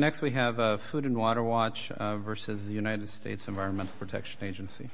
Next we have Food & Water Watch v. United States Environmental Protection Agency. Next we have Food & Water Watch v. United States Environmental Protection Agency.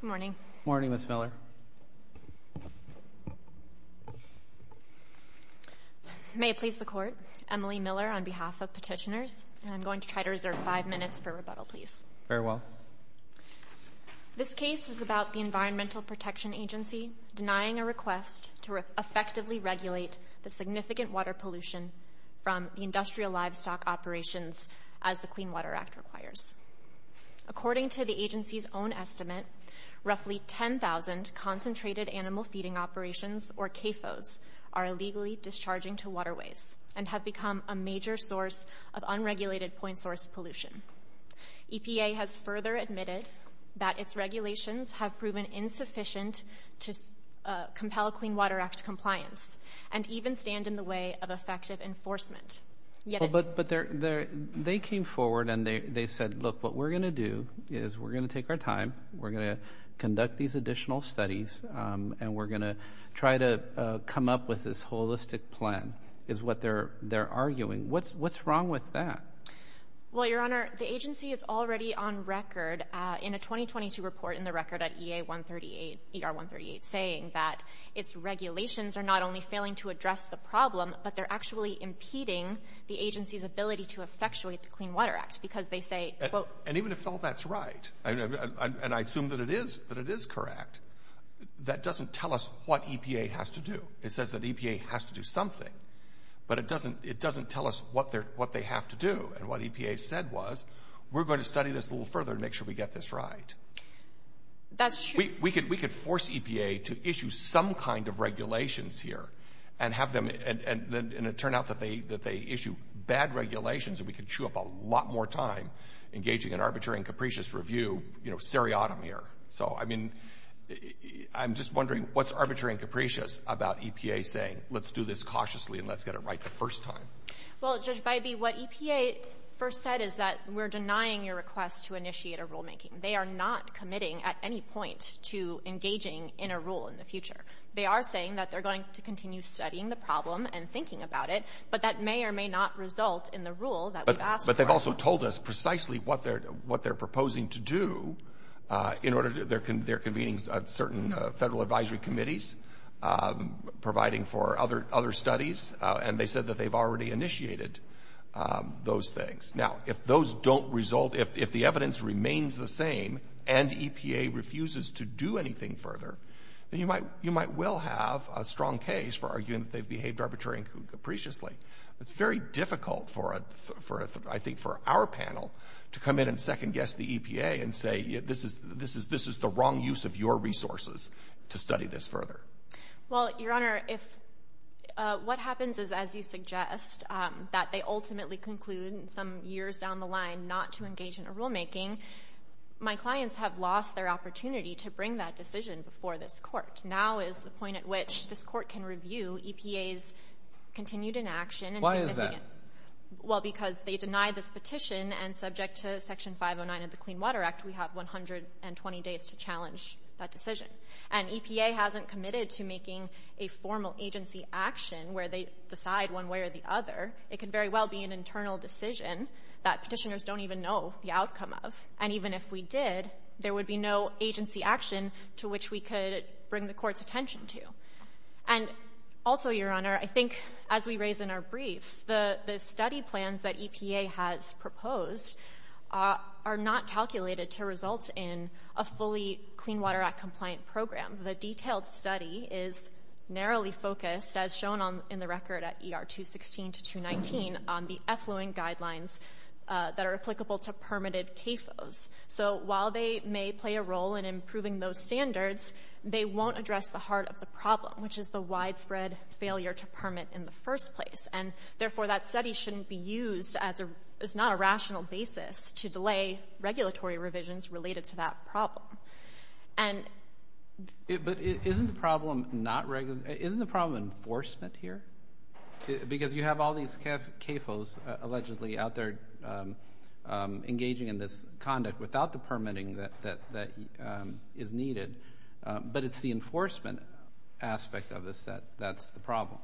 Good morning. Good morning, Ms. Miller. May it please the Court, Emily Miller on behalf of Petitioners, and I'm going to try to reserve five minutes for rebuttal, please. Very well. This case is about the Environmental Protection Agency denying a request to effectively regulate the significant water pollution from the industrial livestock operations as the Clean Water Act requires. According to the agency's own estimate, roughly 10,000 concentrated animal feeding operations, or CAFOs, are illegally discharging to waterways and have become a major source of unregulated point source pollution. EPA has further admitted that its regulations have proven insufficient to compel Clean Water Act compliance and even stand in the way of effective enforcement. But they came forward and they said, look, what we're going to do is we're going to take our time, we're going to conduct these additional studies, and we're going to try to come up with this holistic plan, is what they're arguing. What's wrong with that? Well, Your Honor, the agency is already on record in a 2022 report in the record at EA 138, ER 138, saying that its regulations are not only failing to address the problem, but they're actually impeding the agency's ability to effectuate the Clean Water Act because they say, quote — And even if all that's right, and I assume that it is, that it is correct, that doesn't tell us what EPA has to do. It says that EPA has to do something, but it doesn't tell us what they have to do. And what EPA said was, we're going to study this a little further and make sure we get this right. That's true. We could force EPA to issue some kind of regulations here and have them — and it turned out that they issue bad regulations and we could chew up a lot more time engaging in arbitrary and capricious review, you know, seriatim here. So, I mean, I'm just wondering, what's arbitrary and capricious about EPA saying, let's do this cautiously and let's get it right the first time? Well, Judge Bybee, what EPA first said is that we're denying your request to initiate a rulemaking. They are not committing at any point to engaging in a rule in the future. They are saying that they're going to continue studying the problem and thinking about it, but that may or may not result in the rule that we've asked for. They haven't told us precisely what they're proposing to do in order to — they're convening certain federal advisory committees providing for other studies, and they said that they've already initiated those things. Now, if those don't result — if the evidence remains the same and EPA refuses to do anything further, then you might well have a strong case for arguing that they've behaved arbitrarily and capriciously. It's very difficult for, I think, for our panel to come in and second-guess the EPA and say this is the wrong use of your resources to study this further. Well, Your Honor, if — what happens is, as you suggest, that they ultimately conclude some years down the line not to engage in a rulemaking, my clients have lost their opportunity to bring that decision before this Court. Now is the point at which this Court can review EPA's continued inaction. Why is that? Well, because they deny this petition, and subject to Section 509 of the Clean Water Act, we have 120 days to challenge that decision. And EPA hasn't committed to making a formal agency action where they decide one way or the other. It could very well be an internal decision that petitioners don't even know the outcome of. And even if we did, there would be no agency action to which we could bring the Court's attention to. And also, Your Honor, I think as we raise in our briefs, the study plans that EPA has proposed are not calculated to result in a fully Clean Water Act compliant program. The detailed study is narrowly focused, as shown in the record at ER 216 to 219, on the effluent guidelines that are applicable to permitted CAFOs. So while they may play a role in improving those standards, they won't address the heart of the problem, which is the widespread failure to permit in the first place. And, therefore, that study shouldn't be used as not a rational basis to delay regulatory revisions related to that problem. Isn't the problem enforcement here? Because you have all these CAFOs allegedly out there engaging in this conduct without the permitting that is needed. But it's the enforcement aspect of this that's the problem.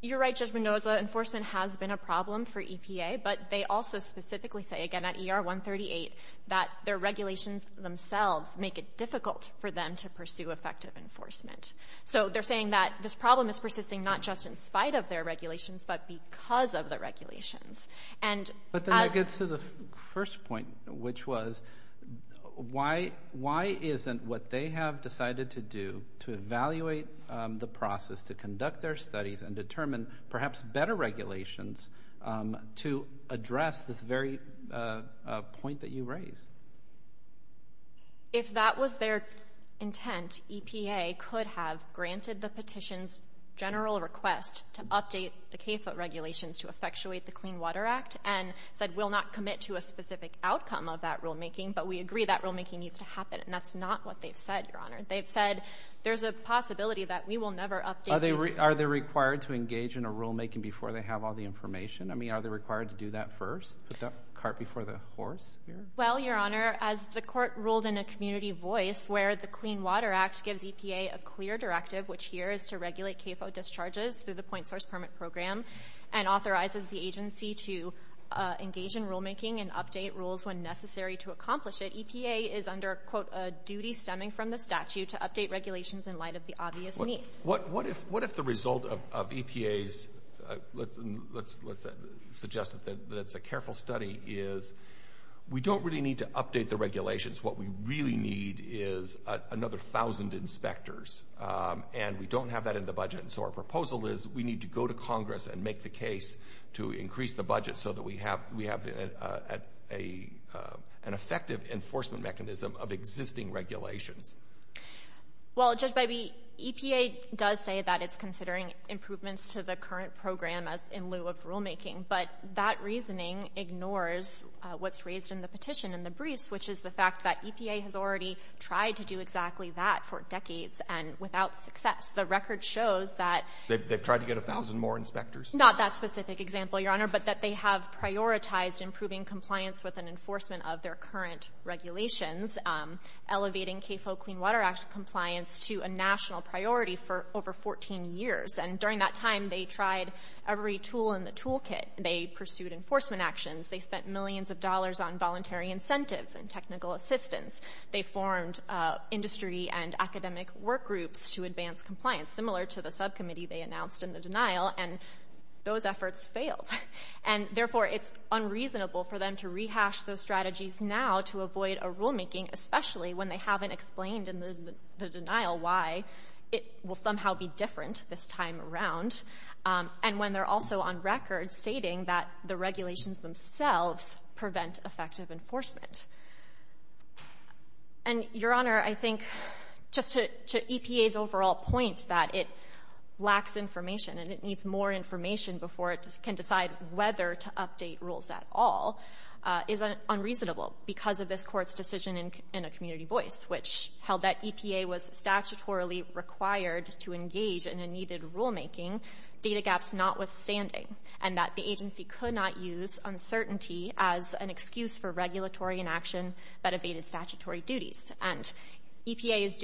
You're right, Judge Mendoza. Enforcement has been a problem for EPA. But they also specifically say, again, at ER 138, that their regulations themselves make it difficult for them to pursue effective enforcement. So they're saying that this problem is persisting not just in spite of their regulations, but because of the regulations. But then that gets to the first point, which was, why isn't what they have decided to do to evaluate the process to conduct their studies and determine perhaps better regulations to address this very point that you raised? If that was their intent, EPA could have granted the petition's general request to update the CAFO regulations to effectuate the Clean Water Act and said we'll not commit to a specific outcome of that rulemaking, but we agree that rulemaking needs to happen. And that's not what they've said, Your Honor. They've said there's a possibility that we will never update this. Are they required to engage in a rulemaking before they have all the information? I mean, are they required to do that first, put that cart before the horse here? Well, Your Honor, as the Court ruled in a community voice where the Clean Water Act gives EPA a clear directive, which here is to regulate CAFO discharges through the point source permit program and authorizes the agency to engage in rulemaking and update rules when necessary to accomplish it, EPA is under, quote, a duty stemming from the statute to update regulations in light of the obvious need. What if the result of EPA's, let's suggest that it's a careful study, is we don't really need to update the regulations. What we really need is another thousand inspectors, and we don't have that in the budget. And so our proposal is we need to go to Congress and make the case to increase the budget so that we have an effective enforcement mechanism of existing regulations. Well, Judge Bybee, EPA does say that it's considering improvements to the current program as in lieu of rulemaking, but that reasoning ignores what's raised in the petition in the briefs, which is the fact that EPA has already tried to do exactly that for decades and without success. The record shows that they've tried to get a thousand more inspectors. Not that specific example, Your Honor, but that they have prioritized improving compliance with an enforcement of their current regulations, elevating CAFO Clean Water Act compliance to a national priority for over 14 years. And during that time, they tried every tool in the toolkit. They pursued enforcement actions. They spent millions of dollars on voluntary incentives and technical assistance. They formed industry and academic workgroups to advance compliance, similar to the subcommittee they announced in the denial, and those efforts failed. And, therefore, it's unreasonable for them to rehash those strategies now to avoid a rulemaking, especially when they haven't explained in the denial why it will somehow be different this time around, and when they're also on record stating that the regulations themselves prevent effective enforcement. And, Your Honor, I think just to EPA's overall point that it lacks information and it needs more information before it can decide whether to update rules at all is unreasonable because of this Court's decision in a community voice, which held that EPA was statutorily required to engage in a needed rulemaking, data gaps notwithstanding, and that the agency could not use uncertainty as an excuse for regulatory inaction that evaded statutory duties. And EPA is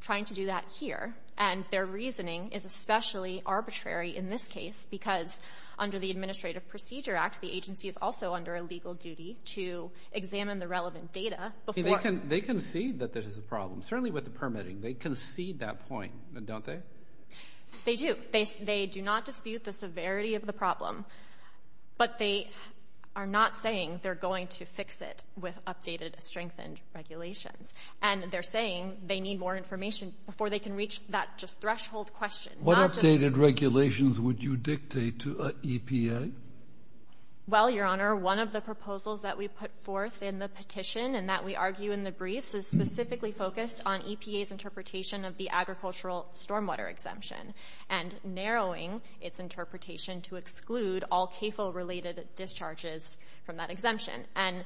trying to do that here, and their reasoning is especially arbitrary in this case because under the Administrative Procedure Act, the agency is also under a legal duty to examine the relevant data. They concede that this is a problem, certainly with the permitting. They concede that point, don't they? They do. They do not dispute the severity of the problem, but they are not saying they're going to fix it with updated, strengthened regulations, and they're saying they need more information before they can reach that just threshold question. What updated regulations would you dictate to EPA? Well, Your Honor, one of the proposals that we put forth in the petition and that we argue in the briefs is specifically focused on EPA's interpretation of the agricultural stormwater exemption and narrowing its interpretation to exclude all CAFO-related discharges from that exemption. And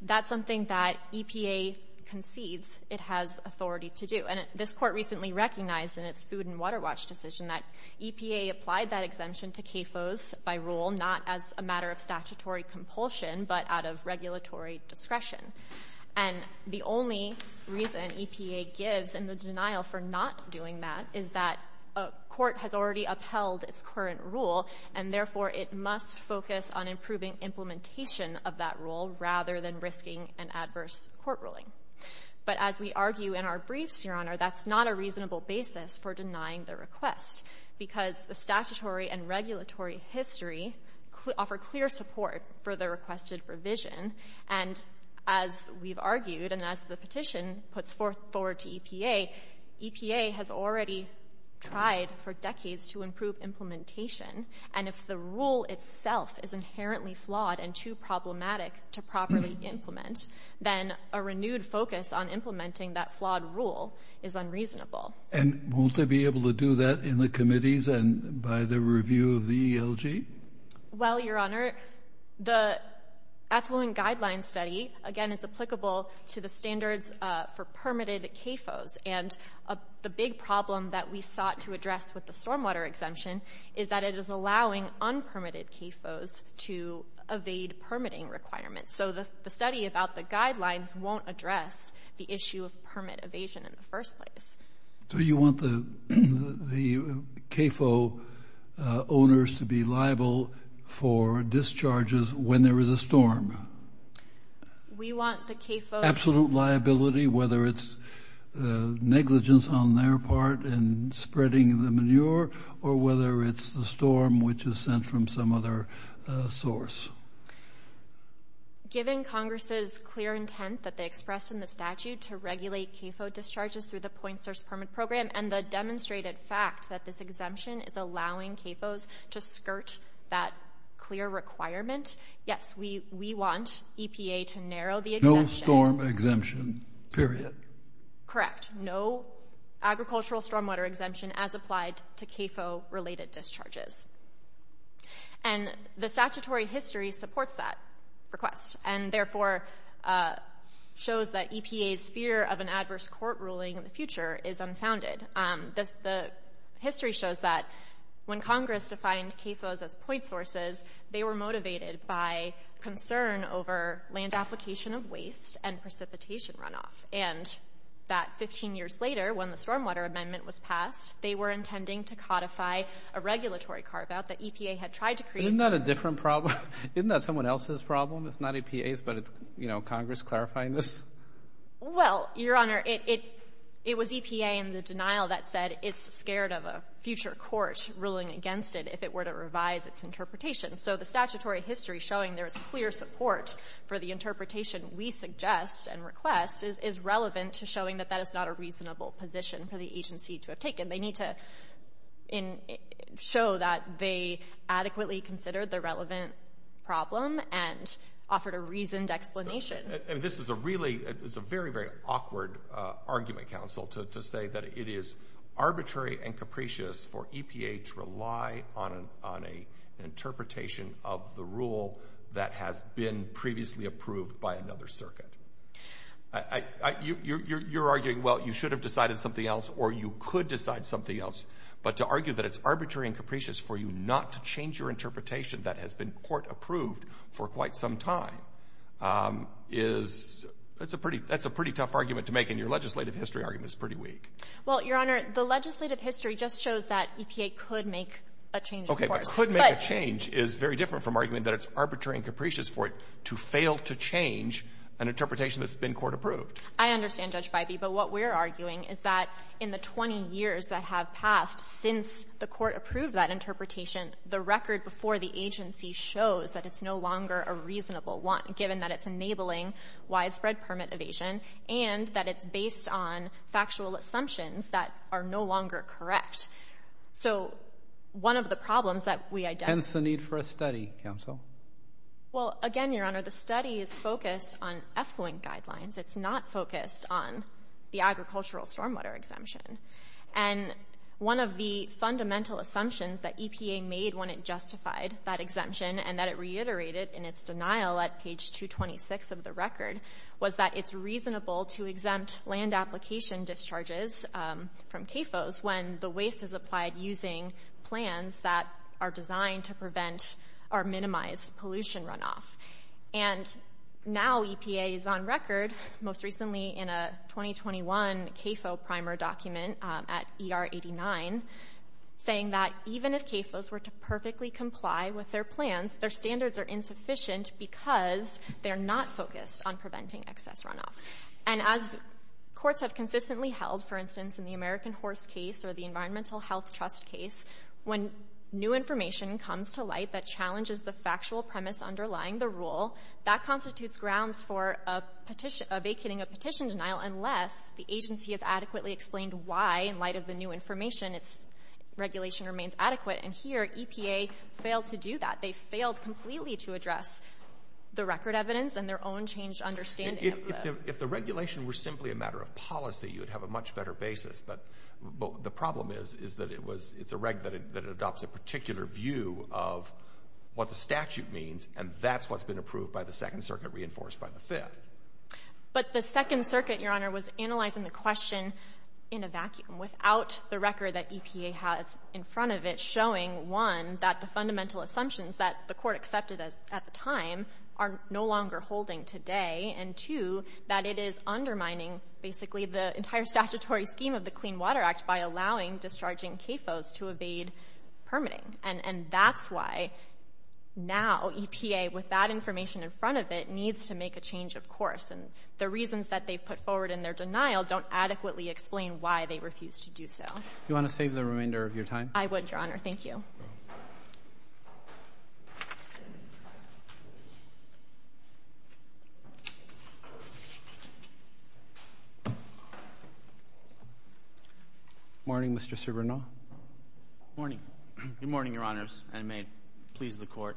that's something that EPA concedes it has authority to do. And this Court recently recognized in its Food and Water Watch decision that EPA applied that exemption to CAFOs by rule not as a matter of statutory compulsion but out of regulatory discretion. And the only reason EPA gives in the denial for not doing that is that a court has already upheld its current rule, and therefore it must focus on improving implementation of that rule rather than risking an adverse court ruling. But as we argue in our briefs, Your Honor, that's not a reasonable basis for denying the request because the statutory and regulatory history offer clear support for the requested revision, and as we've argued and as the petition puts forward to EPA, EPA has already tried for decades to improve implementation, and if the rule itself is inherently flawed and too problematic to properly implement, then a renewed focus on implementing that flawed rule is unreasonable. And won't they be able to do that in the committees and by the review of the ELG? Well, Your Honor, the affluent guidelines study, again, it's applicable to the standards for permitted CAFOs, and the big problem that we sought to address with the stormwater exemption is that it is allowing unpermitted CAFOs to evade permitting requirements. So the study about the guidelines won't address the issue of permit evasion in the first place. So you want the CAFO owners to be liable for discharges when there is a storm? We want the CAFOs... Absolute liability, whether it's negligence on their part in spreading the manure or whether it's the storm which is sent from some other source. Given Congress's clear intent that they expressed in the statute to regulate CAFO discharges through the Point Source Permit Program and the demonstrated fact that this exemption is allowing CAFOs to skirt that clear requirement, yes, we want EPA to narrow the exemption. No storm exemption, period. Correct. No agricultural stormwater exemption as applied to CAFO-related discharges. And the statutory history supports that request and therefore shows that EPA's fear of an adverse court ruling in the future is unfounded. The history shows that when Congress defined CAFOs as point sources, they were motivated by concern over land application of waste and precipitation runoff, and that 15 years later when the stormwater amendment was passed, they were intending to codify a regulatory carve-out that EPA had tried to create. Isn't that a different problem? Isn't that someone else's problem? It's not EPA's, but it's, you know, Congress clarifying this? Well, Your Honor, it was EPA in the denial that said it's scared of a future court ruling against it if it were to revise its interpretation. So the statutory history showing there is clear support for the interpretation we suggest and request is relevant to showing that that is not a reasonable position for the agency to have taken. They need to show that they adequately considered the relevant problem and offered a reasoned explanation. This is a very, very awkward argument, counsel, to say that it is arbitrary and capricious for EPA to rely on an interpretation of the rule that has been previously approved by another circuit. You're arguing, well, you should have decided something else or you could decide something else. But to argue that it's arbitrary and capricious for you not to change your interpretation that has been court-approved for quite some time is — that's a pretty tough argument to make, and your legislative history argument is pretty weak. Well, Your Honor, the legislative history just shows that EPA could make a change, of course. Okay. But could make a change is very different from arguing that it's arbitrary and capricious for it to fail to change an interpretation that's been court-approved. I understand, Judge Feibe. But what we're arguing is that in the 20 years that have passed since the court approved that interpretation, the record before the agency shows that it's no longer a reasonable one, given that it's enabling widespread permit evasion and that it's based on factual assumptions that are no longer correct. So one of the problems that we identify — Hence the need for a study, counsel. Well, again, Your Honor, the study is focused on effluent guidelines. It's not focused on the agricultural stormwater exemption. And one of the fundamental assumptions that EPA made when it justified that exemption and that it reiterated in its denial at page 226 of the record was that it's reasonable to exempt land application discharges from CAFOs when the waste is applied using plans that are designed to prevent or minimize pollution runoff. And now EPA is on record, most recently in a 2021 CAFO primer document at ER89, saying that even if CAFOs were to perfectly comply with their plans, their standards are insufficient because they're not focused on preventing excess runoff. And as courts have consistently held, for instance, in the American Horse case or the Environmental Health Trust case, when new information comes to light that challenges the factual premise underlying the rule, that constitutes grounds for a petition — evacuating a petition denial unless the agency has adequately explained why, in light of the new information, its regulation remains adequate. And here EPA failed to do that. They failed completely to address the record evidence and their own changed understanding of the — If the regulation were simply a matter of policy, you would have a much better basis. But the problem is, is that it was — it's a reg that adopts a particular view of what the statute means and that's what's been approved by the Second Circuit, reinforced by the Fifth. But the Second Circuit, Your Honor, was analyzing the question in a vacuum, without the record that EPA has in front of it, showing, one, that the fundamental assumptions that the court accepted at the time are no longer holding today, and two, that it is undermining basically the entire statutory scheme of the Clean Water Act by allowing discharging CAFOs to evade permitting. And that's why, now, EPA, with that information in front of it, needs to make a change of course. And the reasons that they've put forward in their denial don't adequately explain why they refuse to do so. Do you want to save the remainder of your time? I would, Your Honor. Thank you. Good morning, Mr. Cervena. Morning. Good morning, Your Honors, and may it please the Court.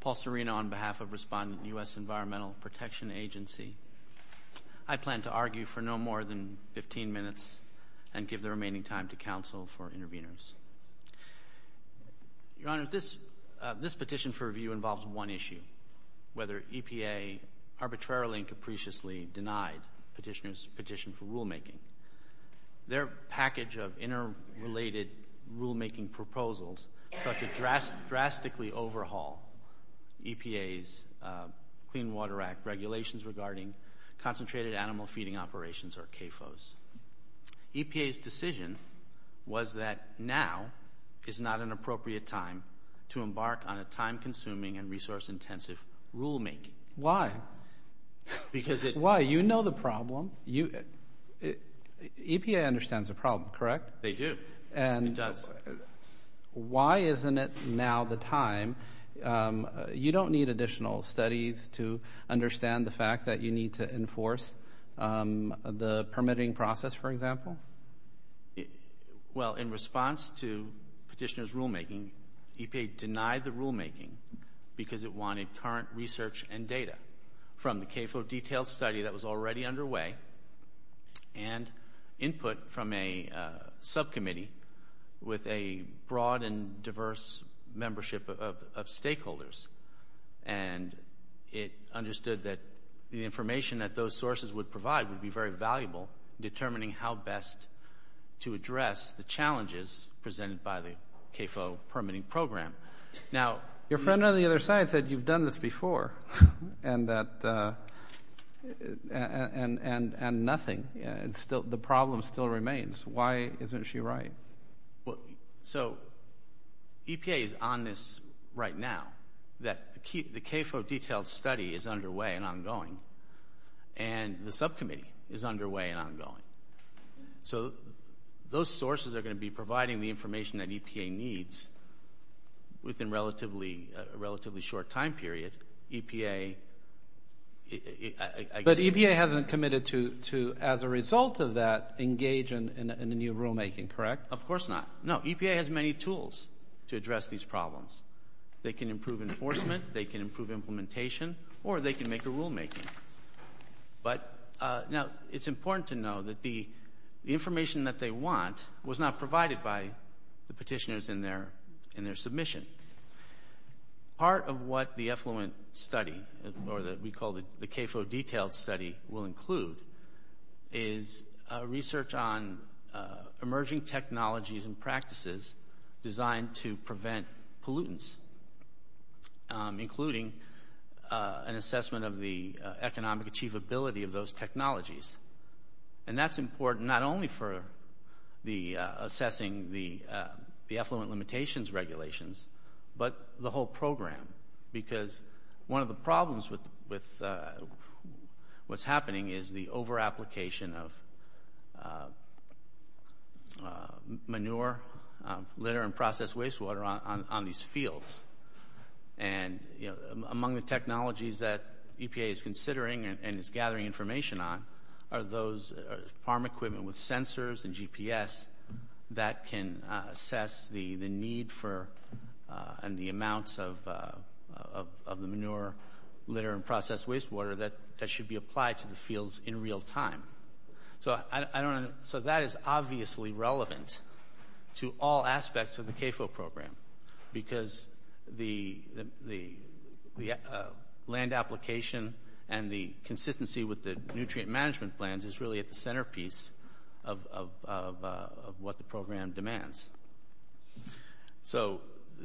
Paul Cervena on behalf of Respondent U.S. Environmental Protection Agency. I plan to argue for no more than 15 minutes and give the remaining time to counsel for interveners. Your Honors, this petition for review involves one issue, whether EPA arbitrarily and capriciously denied petitioners' petition for rulemaking. Their package of interrelated rulemaking proposals sought to drastically overhaul EPA's Clean Water Act regulations regarding concentrated animal feeding operations, or CAFOs. EPA's decision was that now is not an appropriate time to embark on a time-consuming and resource-intensive rulemaking. Why? Because it... Why? You know the problem. EPA understands the problem, correct? They do. It does. Why isn't it now the time? You don't need additional studies to understand the fact that you need to enforce the permitting process, for example? Well, in response to petitioners' rulemaking, EPA denied the rulemaking because it wanted current research and data from the CAFO detailed study that was already underway and input from a subcommittee with a broad and diverse membership of stakeholders. And it understood that the information that those sources would provide would be very valuable in determining how best to address the challenges presented by the CAFO permitting program. Your friend on the other side said you've done this before and nothing. The problem still remains. Why isn't she right? So EPA is on this right now, that the CAFO detailed study is underway and ongoing, and the subcommittee is underway and ongoing. So those sources are going to be providing the information that EPA needs within a relatively short time period. But EPA hasn't committed to, as a result of that, engage in the new rulemaking, correct? Of course not. No, EPA has many tools to address these problems. They can improve enforcement, they can improve implementation, or they can make a rulemaking. But now it's important to know that the information that they want was not provided by the petitioners in their submission. Part of what the effluent study, or what we call the CAFO detailed study, will include is research on emerging technologies and practices designed to prevent pollutants, including an assessment of the economic achievability of those technologies. And that's important not only for assessing the effluent limitations regulations, but the whole program. Because one of the problems with what's happening is the over-application of manure, litter, and processed wastewater on these fields. And among the technologies that EPA is considering and is gathering information on are those farm equipment with sensors and GPS that can assess the need for and the amounts of the manure, litter, and processed wastewater that should be applied to the fields in real time. So that is obviously relevant to all aspects of the CAFO program. Because the land application and the consistency with the nutrient management plans is really at the centerpiece of what the program demands. So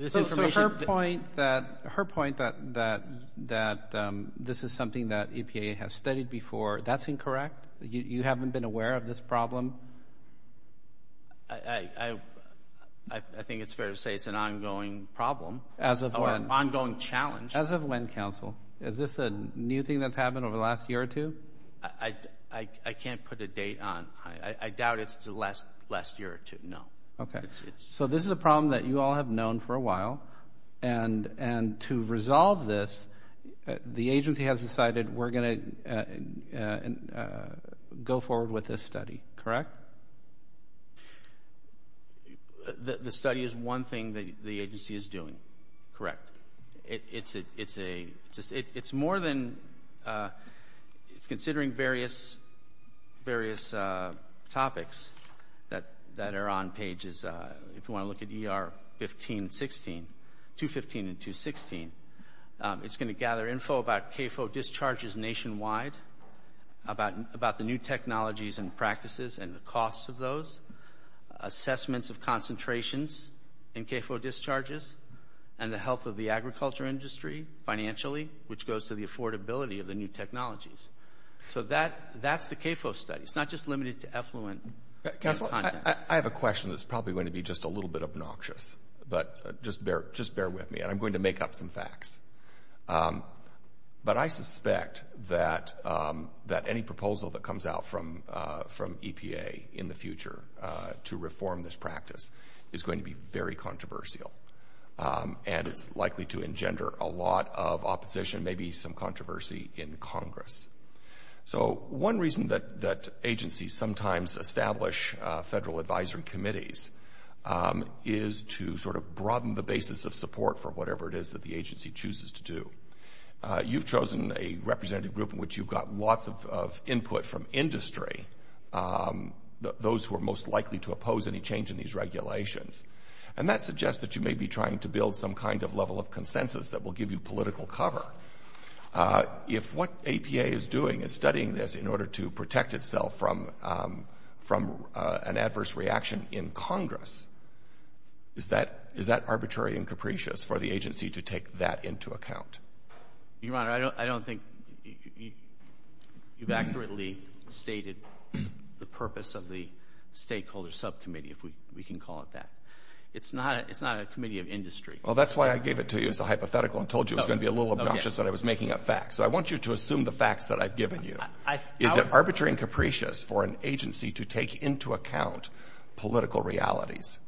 her point that this is something that EPA has studied before, that's incorrect. You haven't been aware of this problem? I think it's fair to say it's an ongoing problem. As of when? Or an ongoing challenge. As of when, counsel? Is this a new thing that's happened over the last year or two? I can't put a date on. I doubt it's the last year or two. No. Okay. So this is a problem that you all have known for a while. And to resolve this, the agency has decided we're going to go forward with this study. Correct? The study is one thing that the agency is doing. Correct. It's more than considering various topics that are on pages. If you want to look at ER 215 and 216, it's going to gather info about CAFO discharges nationwide, about the new technologies and practices and the costs of those, assessments of concentrations in CAFO discharges, and the health of the agriculture industry financially, which goes to the affordability of the new technologies. So that's the CAFO study. It's not just limited to effluent content. Counsel, I have a question that's probably going to be just a little bit obnoxious. But just bear with me, and I'm going to make up some facts. But I suspect that any proposal that comes out from EPA in the future to reform this practice is going to be very controversial. And it's likely to engender a lot of opposition, maybe some controversy in Congress. So one reason that agencies sometimes establish federal advisory committees is to sort of broaden the basis of support for whatever it is that the agency chooses to do. You've chosen a representative group in which you've got lots of input from industry, those who are most likely to oppose any change in these regulations. And that suggests that you may be trying to build some kind of level of consensus that will give you political cover. If what EPA is doing is studying this in order to protect itself from an adverse reaction in Congress, is that arbitrary and capricious for the agency to take that into account? Your Honor, I don't think you've accurately stated the purpose of the stakeholder subcommittee, if we can call it that. It's not a committee of industry. Well, that's why I gave it to you as a hypothetical and told you it was going to be a little obnoxious that I was making up facts. So I want you to assume the facts that I've given you. Is it arbitrary and capricious for an agency to take into account political realities?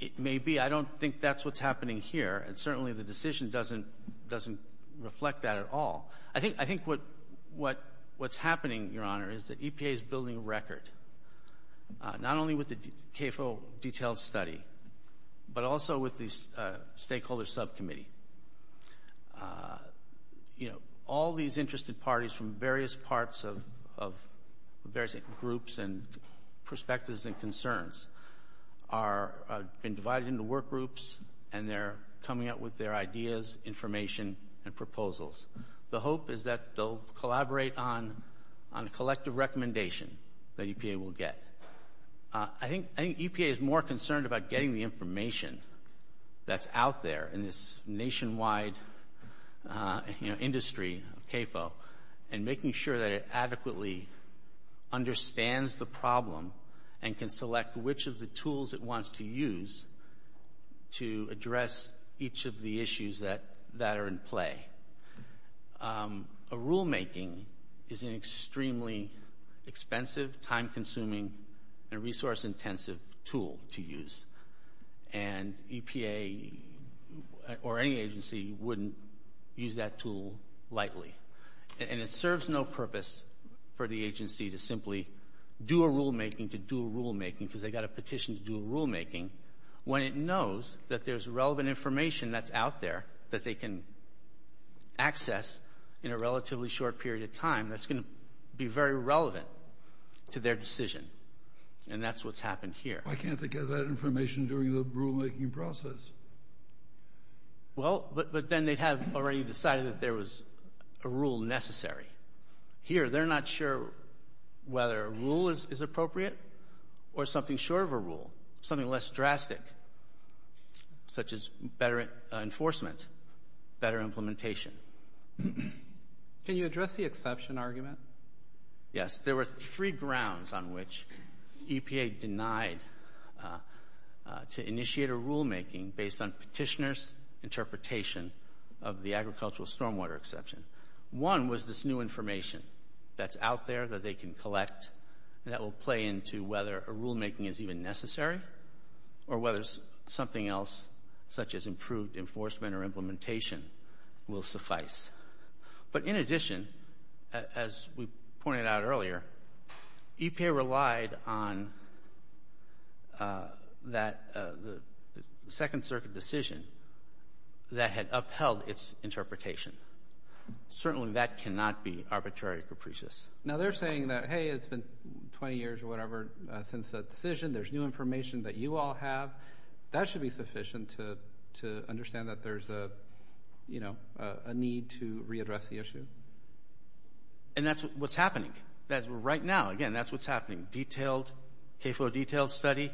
It may be. I don't think that's what's happening here, and certainly the decision doesn't reflect that at all. I think what's happening, Your Honor, is that EPA is building a record, not only with the CAFO detailed study, but also with the stakeholder subcommittee. All these interested parties from various parts of various groups and perspectives and concerns have been divided into work groups, and they're coming up with their ideas, information, and proposals. The hope is that they'll collaborate on a collective recommendation that EPA will get. I think EPA is more concerned about getting the information that's out there in this nationwide industry, CAFO, and making sure that it adequately understands the problem and can select which of the tools it wants to use to address each of the issues that are in play. A rulemaking is an extremely expensive, time-consuming, and resource-intensive tool to use, and EPA or any agency wouldn't use that tool lightly. And it serves no purpose for the agency to simply do a rulemaking to do a rulemaking because they've got a petition to do a rulemaking when it knows that there's relevant information that's out there that they can access in a relatively short period of time that's going to be very relevant to their decision. And that's what's happened here. Why can't they get that information during the rulemaking process? Well, but then they'd have already decided that there was a rule necessary. Here, they're not sure whether a rule is appropriate or something short of a rule, something less drastic, such as better enforcement, better implementation. Can you address the exception argument? Yes, there were three grounds on which EPA denied to initiate a rulemaking based on petitioners' interpretation of the agricultural stormwater exception. One was this new information that's out there that they can collect that will play into whether a rulemaking is even necessary or whether something else, such as improved enforcement or implementation, will suffice. But in addition, as we pointed out earlier, EPA relied on the Second Circuit decision that had upheld its interpretation. Certainly, that cannot be arbitrary capricious. Now, they're saying that, hey, it's been 20 years or whatever since that decision. There's new information that you all have. That should be sufficient to understand that there's a need to readdress the issue. And that's what's happening. Right now, again, that's what's happening. Detailed KFOA detailed study,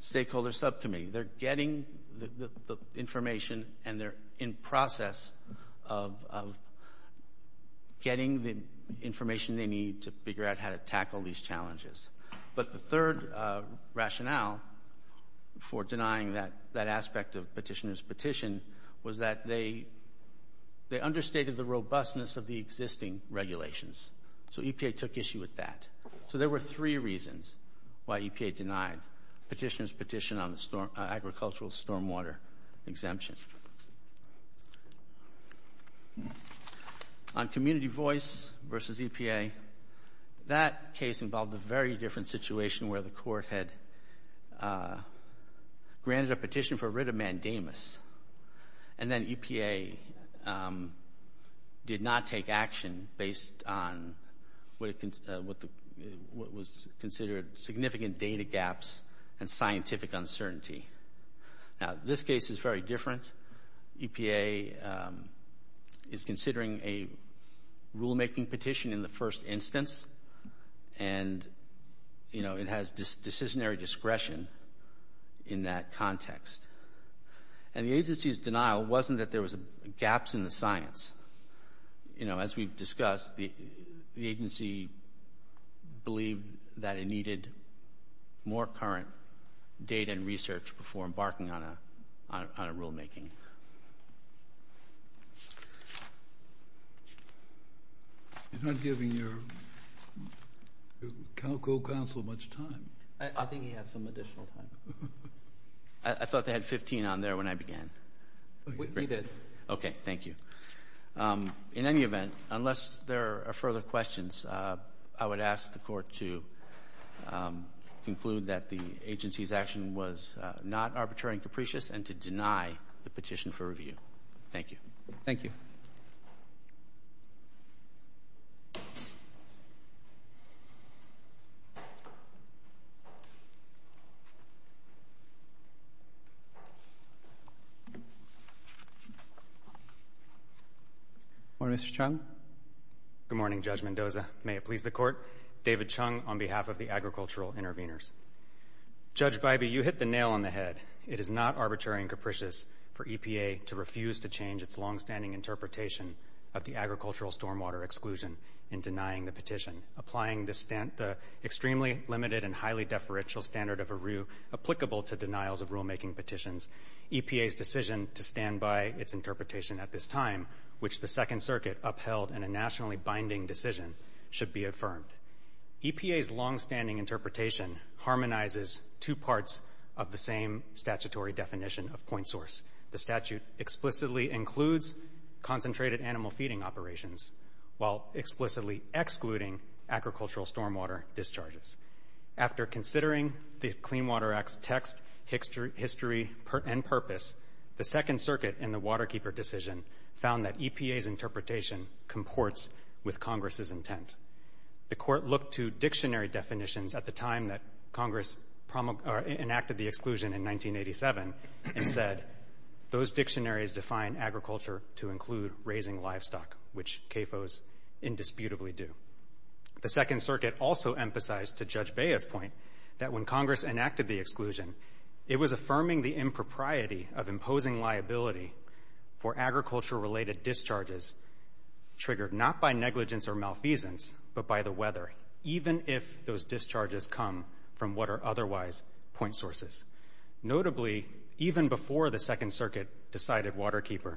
stakeholder subcommittee. They're getting the information, and they're in process of getting the information they need to figure out how to tackle these challenges. But the third rationale for denying that aspect of petitioner's petition was that they understated the robustness of the existing regulations. So EPA took issue with that. So there were three reasons why EPA denied petitioner's petition on the agricultural stormwater exemption. On community voice versus EPA, that case involved a very different situation where the court had granted a petition for writ of mandamus, and then EPA did not take action based on what was considered significant data gaps and scientific uncertainty. Now, this case is very different. EPA is considering a rulemaking petition in the first instance, and it has decisionary discretion in that context. And the agency's denial wasn't that there was gaps in the science. As we've discussed, the agency believed that it needed more current data and research before embarking on a rulemaking. You're not giving your co-counsel much time. I think he has some additional time. I thought they had 15 on there when I began. We did. Okay, thank you. In any event, unless there are further questions, I would ask the court to conclude that the agency's action was not arbitrary and capricious and to deny the petition for review. Thank you. Thank you. Good morning, Mr. Chung. Good morning, Judge Mendoza. May it please the Court. David Chung on behalf of the Agricultural Interveners. Judge Bybee, you hit the nail on the head. It is not arbitrary and capricious for EPA to refuse to change its longstanding interpretation of the agricultural stormwater exclusion in denying the petition. Applying the extremely limited and highly deferential standard of ARU applicable to denials of rulemaking petitions, EPA's decision to stand by its interpretation at this time, which the Second Circuit upheld in a nationally binding decision, should be affirmed. EPA's longstanding interpretation harmonizes two parts of the same statutory definition of point source. The statute explicitly includes concentrated animal feeding operations while explicitly excluding agricultural stormwater discharges. After considering the Clean Water Act's text, history, and purpose, the Second Circuit in the Waterkeeper decision found that EPA's interpretation comports with Congress's intent. The Court looked to dictionary definitions at the time that Congress enacted the exclusion in 1987 and said those dictionaries define agriculture to include raising livestock, which CAFOs indisputably do. The Second Circuit also emphasized to Judge Bea's point that when Congress enacted the exclusion, it was affirming the impropriety of imposing liability for agricultural-related discharges triggered not by negligence or malfeasance but by the weather, even if those discharges come from what are otherwise point sources. Notably, even before the Second Circuit decided Waterkeeper,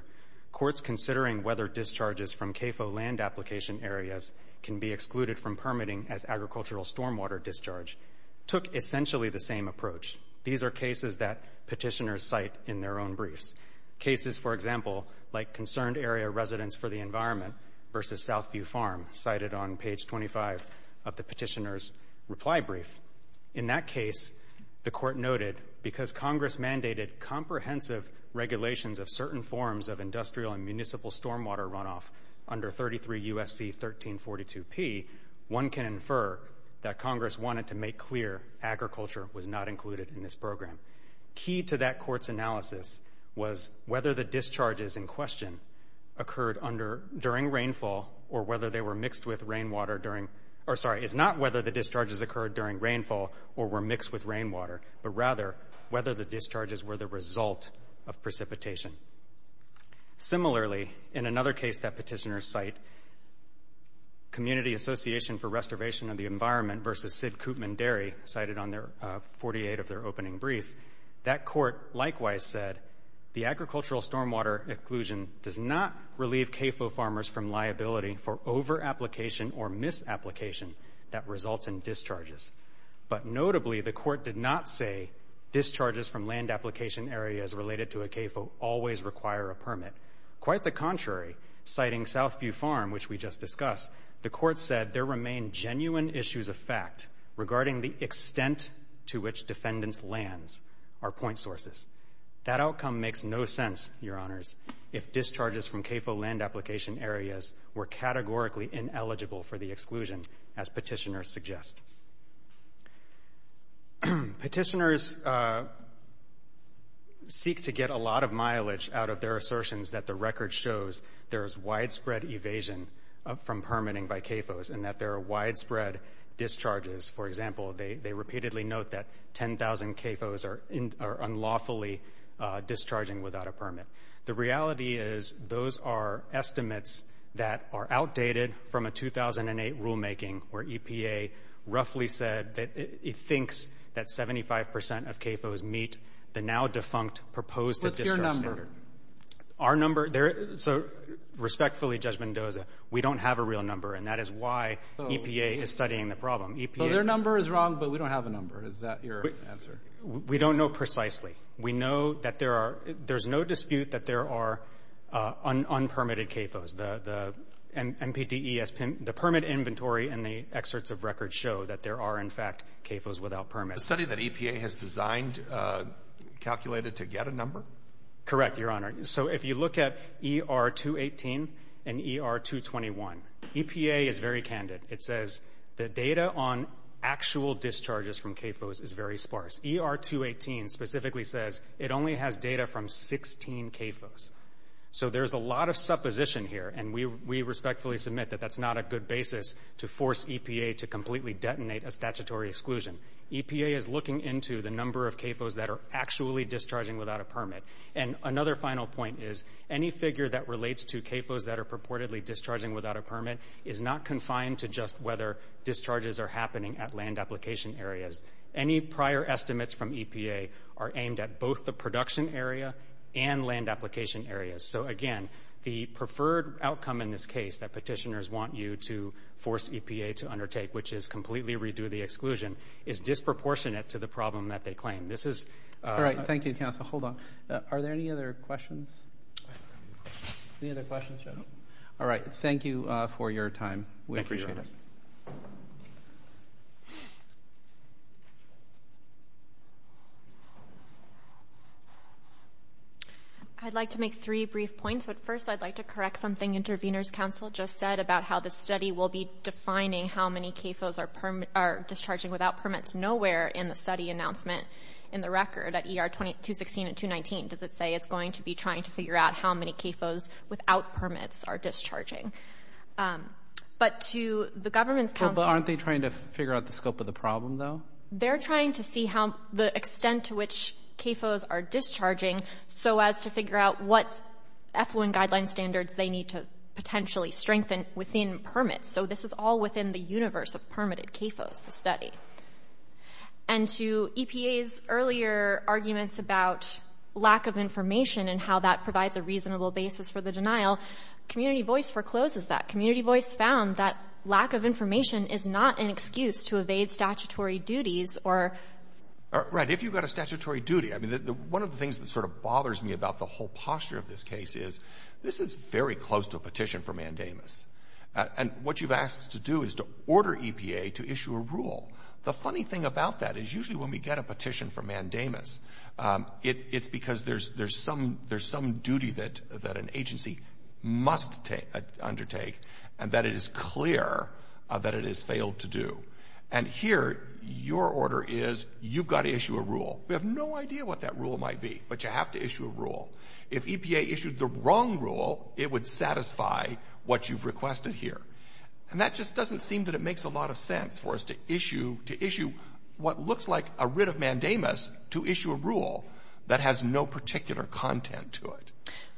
courts considering whether discharges from CAFO land application areas can be excluded from permitting as agricultural stormwater discharge took essentially the same approach. These are cases that petitioners cite in their own briefs. Cases, for example, like concerned area residents for the environment versus Southview Farm, cited on page 25 of the petitioner's reply brief. In that case, the Court noted, because Congress mandated comprehensive regulations of certain forms of industrial and municipal stormwater runoff under 33 U.S.C. 1342P, one can infer that Congress wanted to make clear agriculture was not included in this program. Key to that court's analysis was whether the discharges in question occurred during rainfall or whether they were mixed with rainwater during or, sorry, it's not whether the discharges occurred during rainfall or were mixed with rainwater, but rather whether the discharges were the result of precipitation. Similarly, in another case that petitioners cite, Community Association for Restoration of the Environment versus Sid Koopman Dairy, cited on 48 of their opening brief, that court likewise said, the agricultural stormwater exclusion does not relieve CAFO farmers from liability for over-application or mis-application that results in discharges. But notably, the court did not say, discharges from land application areas related to a CAFO always require a permit. Quite the contrary, citing Southview Farm, which we just discussed, the court said there remain genuine issues of fact regarding the extent to which defendants' lands are point sources. That outcome makes no sense, Your Honors, if discharges from CAFO land application areas were categorically ineligible for the exclusion, as petitioners suggest. Petitioners seek to get a lot of mileage out of their assertions that the record shows there is widespread evasion from permitting by CAFOs and that there are widespread discharges. For example, they repeatedly note that 10,000 CAFOs are unlawfully discharging without a permit. The reality is those are estimates that are outdated from a 2008 rulemaking where EPA roughly said that it thinks that 75% of CAFOs meet the now-defunct proposed discharge standard. Our number? So respectfully, Judge Mendoza, we don't have a real number, and that is why EPA is studying the problem. So their number is wrong, but we don't have a number. Is that your answer? We don't know precisely. We know that there's no dispute that there are unpermitted CAFOs. The MPDES permit inventory and the excerpts of records show that there are, in fact, CAFOs without permits. The study that EPA has designed calculated to get a number? Correct, Your Honor. So if you look at ER-218 and ER-221, EPA is very candid. It says the data on actual discharges from CAFOs is very sparse. ER-218 specifically says it only has data from 16 CAFOs. So there's a lot of supposition here, and we respectfully submit that that's not a good basis to force EPA to completely detonate a statutory exclusion. EPA is looking into the number of CAFOs that are actually discharging without a permit. And another final point is any figure that relates to CAFOs that are purportedly discharging without a permit is not confined to just whether discharges are happening at land application areas. Any prior estimates from EPA are aimed at both the production area and land application areas. So again, the preferred outcome in this case that petitioners want you to force EPA to undertake, which is completely redo the exclusion, is disproportionate to the problem that they claim. All right, thank you, counsel. Hold on. Are there any other questions? Any other questions? No. All right, thank you for your time. We appreciate it. I'd like to make three brief points, but first I'd like to correct something Intervenors Council just said about how the study will be defining how many CAFOs are discharging without permits. Nowhere in the study announcement in the record at ER 216 and 219 does it say it's going to be trying to figure out how many CAFOs without permits are discharging. But to the government's counsel... they're trying to see the extent to which CAFOs are discharging so as to figure out what effluent guideline standards they need to potentially strengthen within permits. So this is all within the universe of permitted CAFOs, the study. And to EPA's earlier arguments about lack of information and how that provides a reasonable basis for the denial, Community Voice forecloses that. Community Voice found that lack of information is not an excuse to evade statutory duties or... Right. If you've got a statutory duty... I mean, one of the things that sort of bothers me about the whole posture of this case is this is very close to a petition for mandamus. And what you've asked to do is to order EPA to issue a rule. The funny thing about that is usually when we get a petition for mandamus, it's because there's some duty that an agency must undertake and that it is clear that it has failed to do. And here, your order is you've got to issue a rule. We have no idea what that rule might be, but you have to issue a rule. If EPA issued the wrong rule, it would satisfy what you've requested here. And that just doesn't seem that it makes a lot of sense for us to issue what looks like a writ of mandamus to issue a rule that has no particular content to it.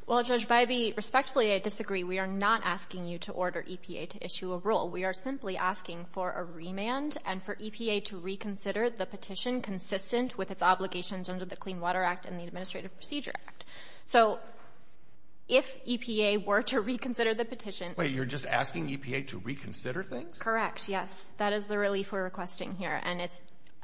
Well, Judge Bybee, respectfully, I disagree. We are not asking you to order EPA to issue a rule. We are simply asking for a remand and for EPA to reconsider the petition consistent with its obligations under the Clean Water Act and the Administrative Procedure Act. So if EPA were to reconsider the petition... Wait. You're just asking EPA to reconsider things? Correct, yes. That is the relief we're requesting here. And it's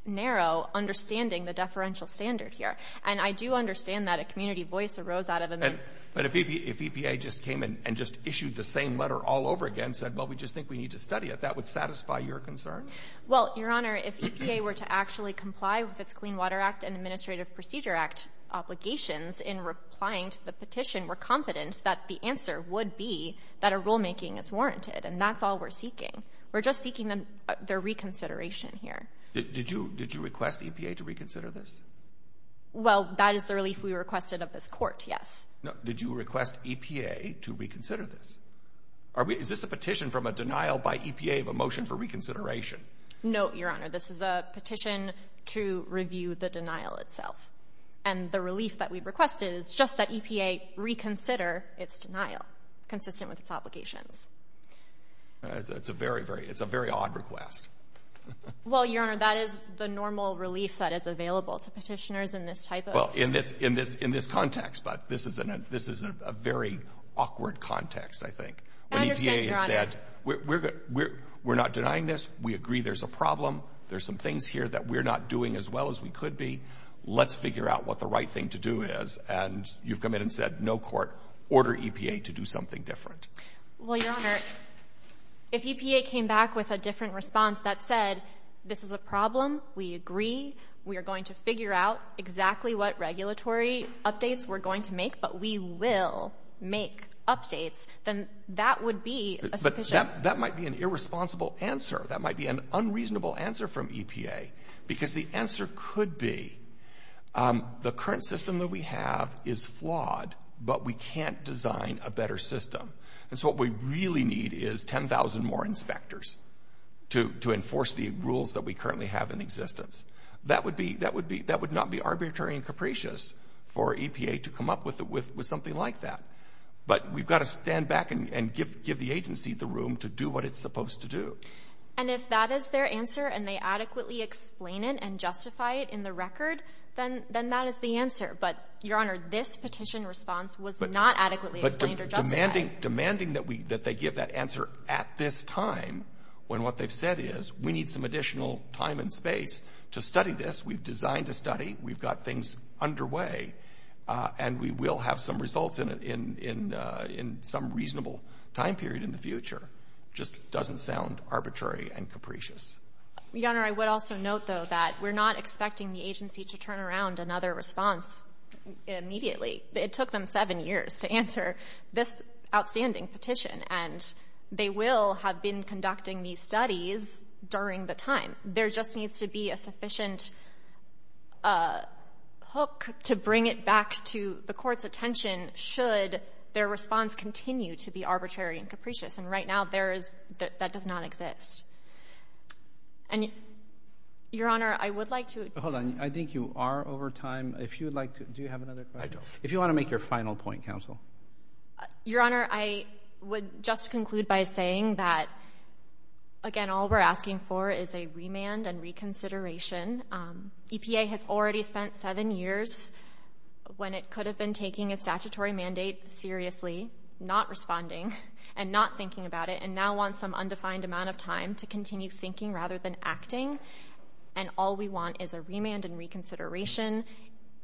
narrow understanding the deferential standard here. And I do understand that a community voice arose out of a minute. But if EPA just came in and just issued the same letter all over again, said, well, we just think we need to study it, that would satisfy your concern? Well, Your Honor, if EPA were to actually comply with its Clean Water Act and Administrative Procedure Act obligations in replying to the petition, we're confident that the answer would be that a rulemaking is warranted. And that's all we're seeking. We're just seeking their reconsideration here. Did you request EPA to reconsider this? Well, that is the relief we requested of this Court, yes. Did you request EPA to reconsider this? Is this a petition from a denial by EPA of a motion for reconsideration? No, Your Honor. This is a petition to review the denial itself. And the relief that we've requested is just that EPA reconsider its denial, consistent with its obligations. That's a very, very odd request. Well, Your Honor, that is the normal relief that is available to petitioners in this type of... Well, in this context, but this is a very awkward context, I think. I understand, Your Honor. When EPA has said, we're not denying this, we agree there's a problem, there's some things here that we're not doing as well as we could be, let's figure out what the right thing to do is. And you've come in and said, no, Court, order EPA to do something different. Well, Your Honor, if EPA came back with a different response that said, this is a problem, we agree, we are going to figure out exactly what regulatory updates we're going to make, but we will make updates, then that would be a sufficient... But that might be an irresponsible answer. That might be an unreasonable answer from EPA because the answer could be, the current system that we have is flawed, but we can't design a better system. And so what we really need is 10,000 more inspectors to enforce the rules that we currently have in existence. That would be — that would be — that would not be arbitrary and capricious for EPA to come up with something like that. But we've got to stand back and give the agency the room to do what it's supposed to do. And if that is their answer and they adequately explain it and justify it in the record, then that is the answer. But, Your Honor, this petition response was not adequately explained or justified. Demanding that they give that answer at this time when what they've said is, we need some additional time and space to study this. We've designed a study. We've got things underway. And we will have some results in some reasonable time period in the future. It just doesn't sound arbitrary and capricious. Your Honor, I would also note, though, that we're not expecting the agency to turn around another response immediately. It took them seven years to answer this outstanding petition. And they will have been conducting these studies during the time. There just needs to be a sufficient hook to bring it back to the Court's attention should their response continue to be arbitrary and capricious. And right now, there is — that does not exist. And, Your Honor, I would like to — Hold on. I think you are over time. If you would like to — do you have another question? If you want to make your final point, Counsel. Your Honor, I would just conclude by saying that, again, all we're asking for is a remand and reconsideration. EPA has already spent seven years, when it could have been taking its statutory mandate seriously, not responding and not thinking about it, and now wants some undefined amount of time to continue thinking rather than acting. And all we want is a remand and reconsideration,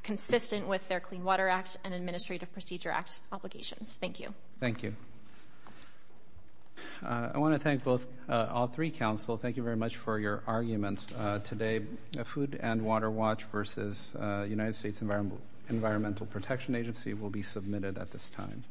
consistent with their Clean Water Act and Administrative Procedure Act obligations. Thank you. Thank you. I want to thank both — all three, Counsel. Thank you very much for your arguments today. Food and Water Watch versus United States Environmental Protection Agency will be submitted at this time.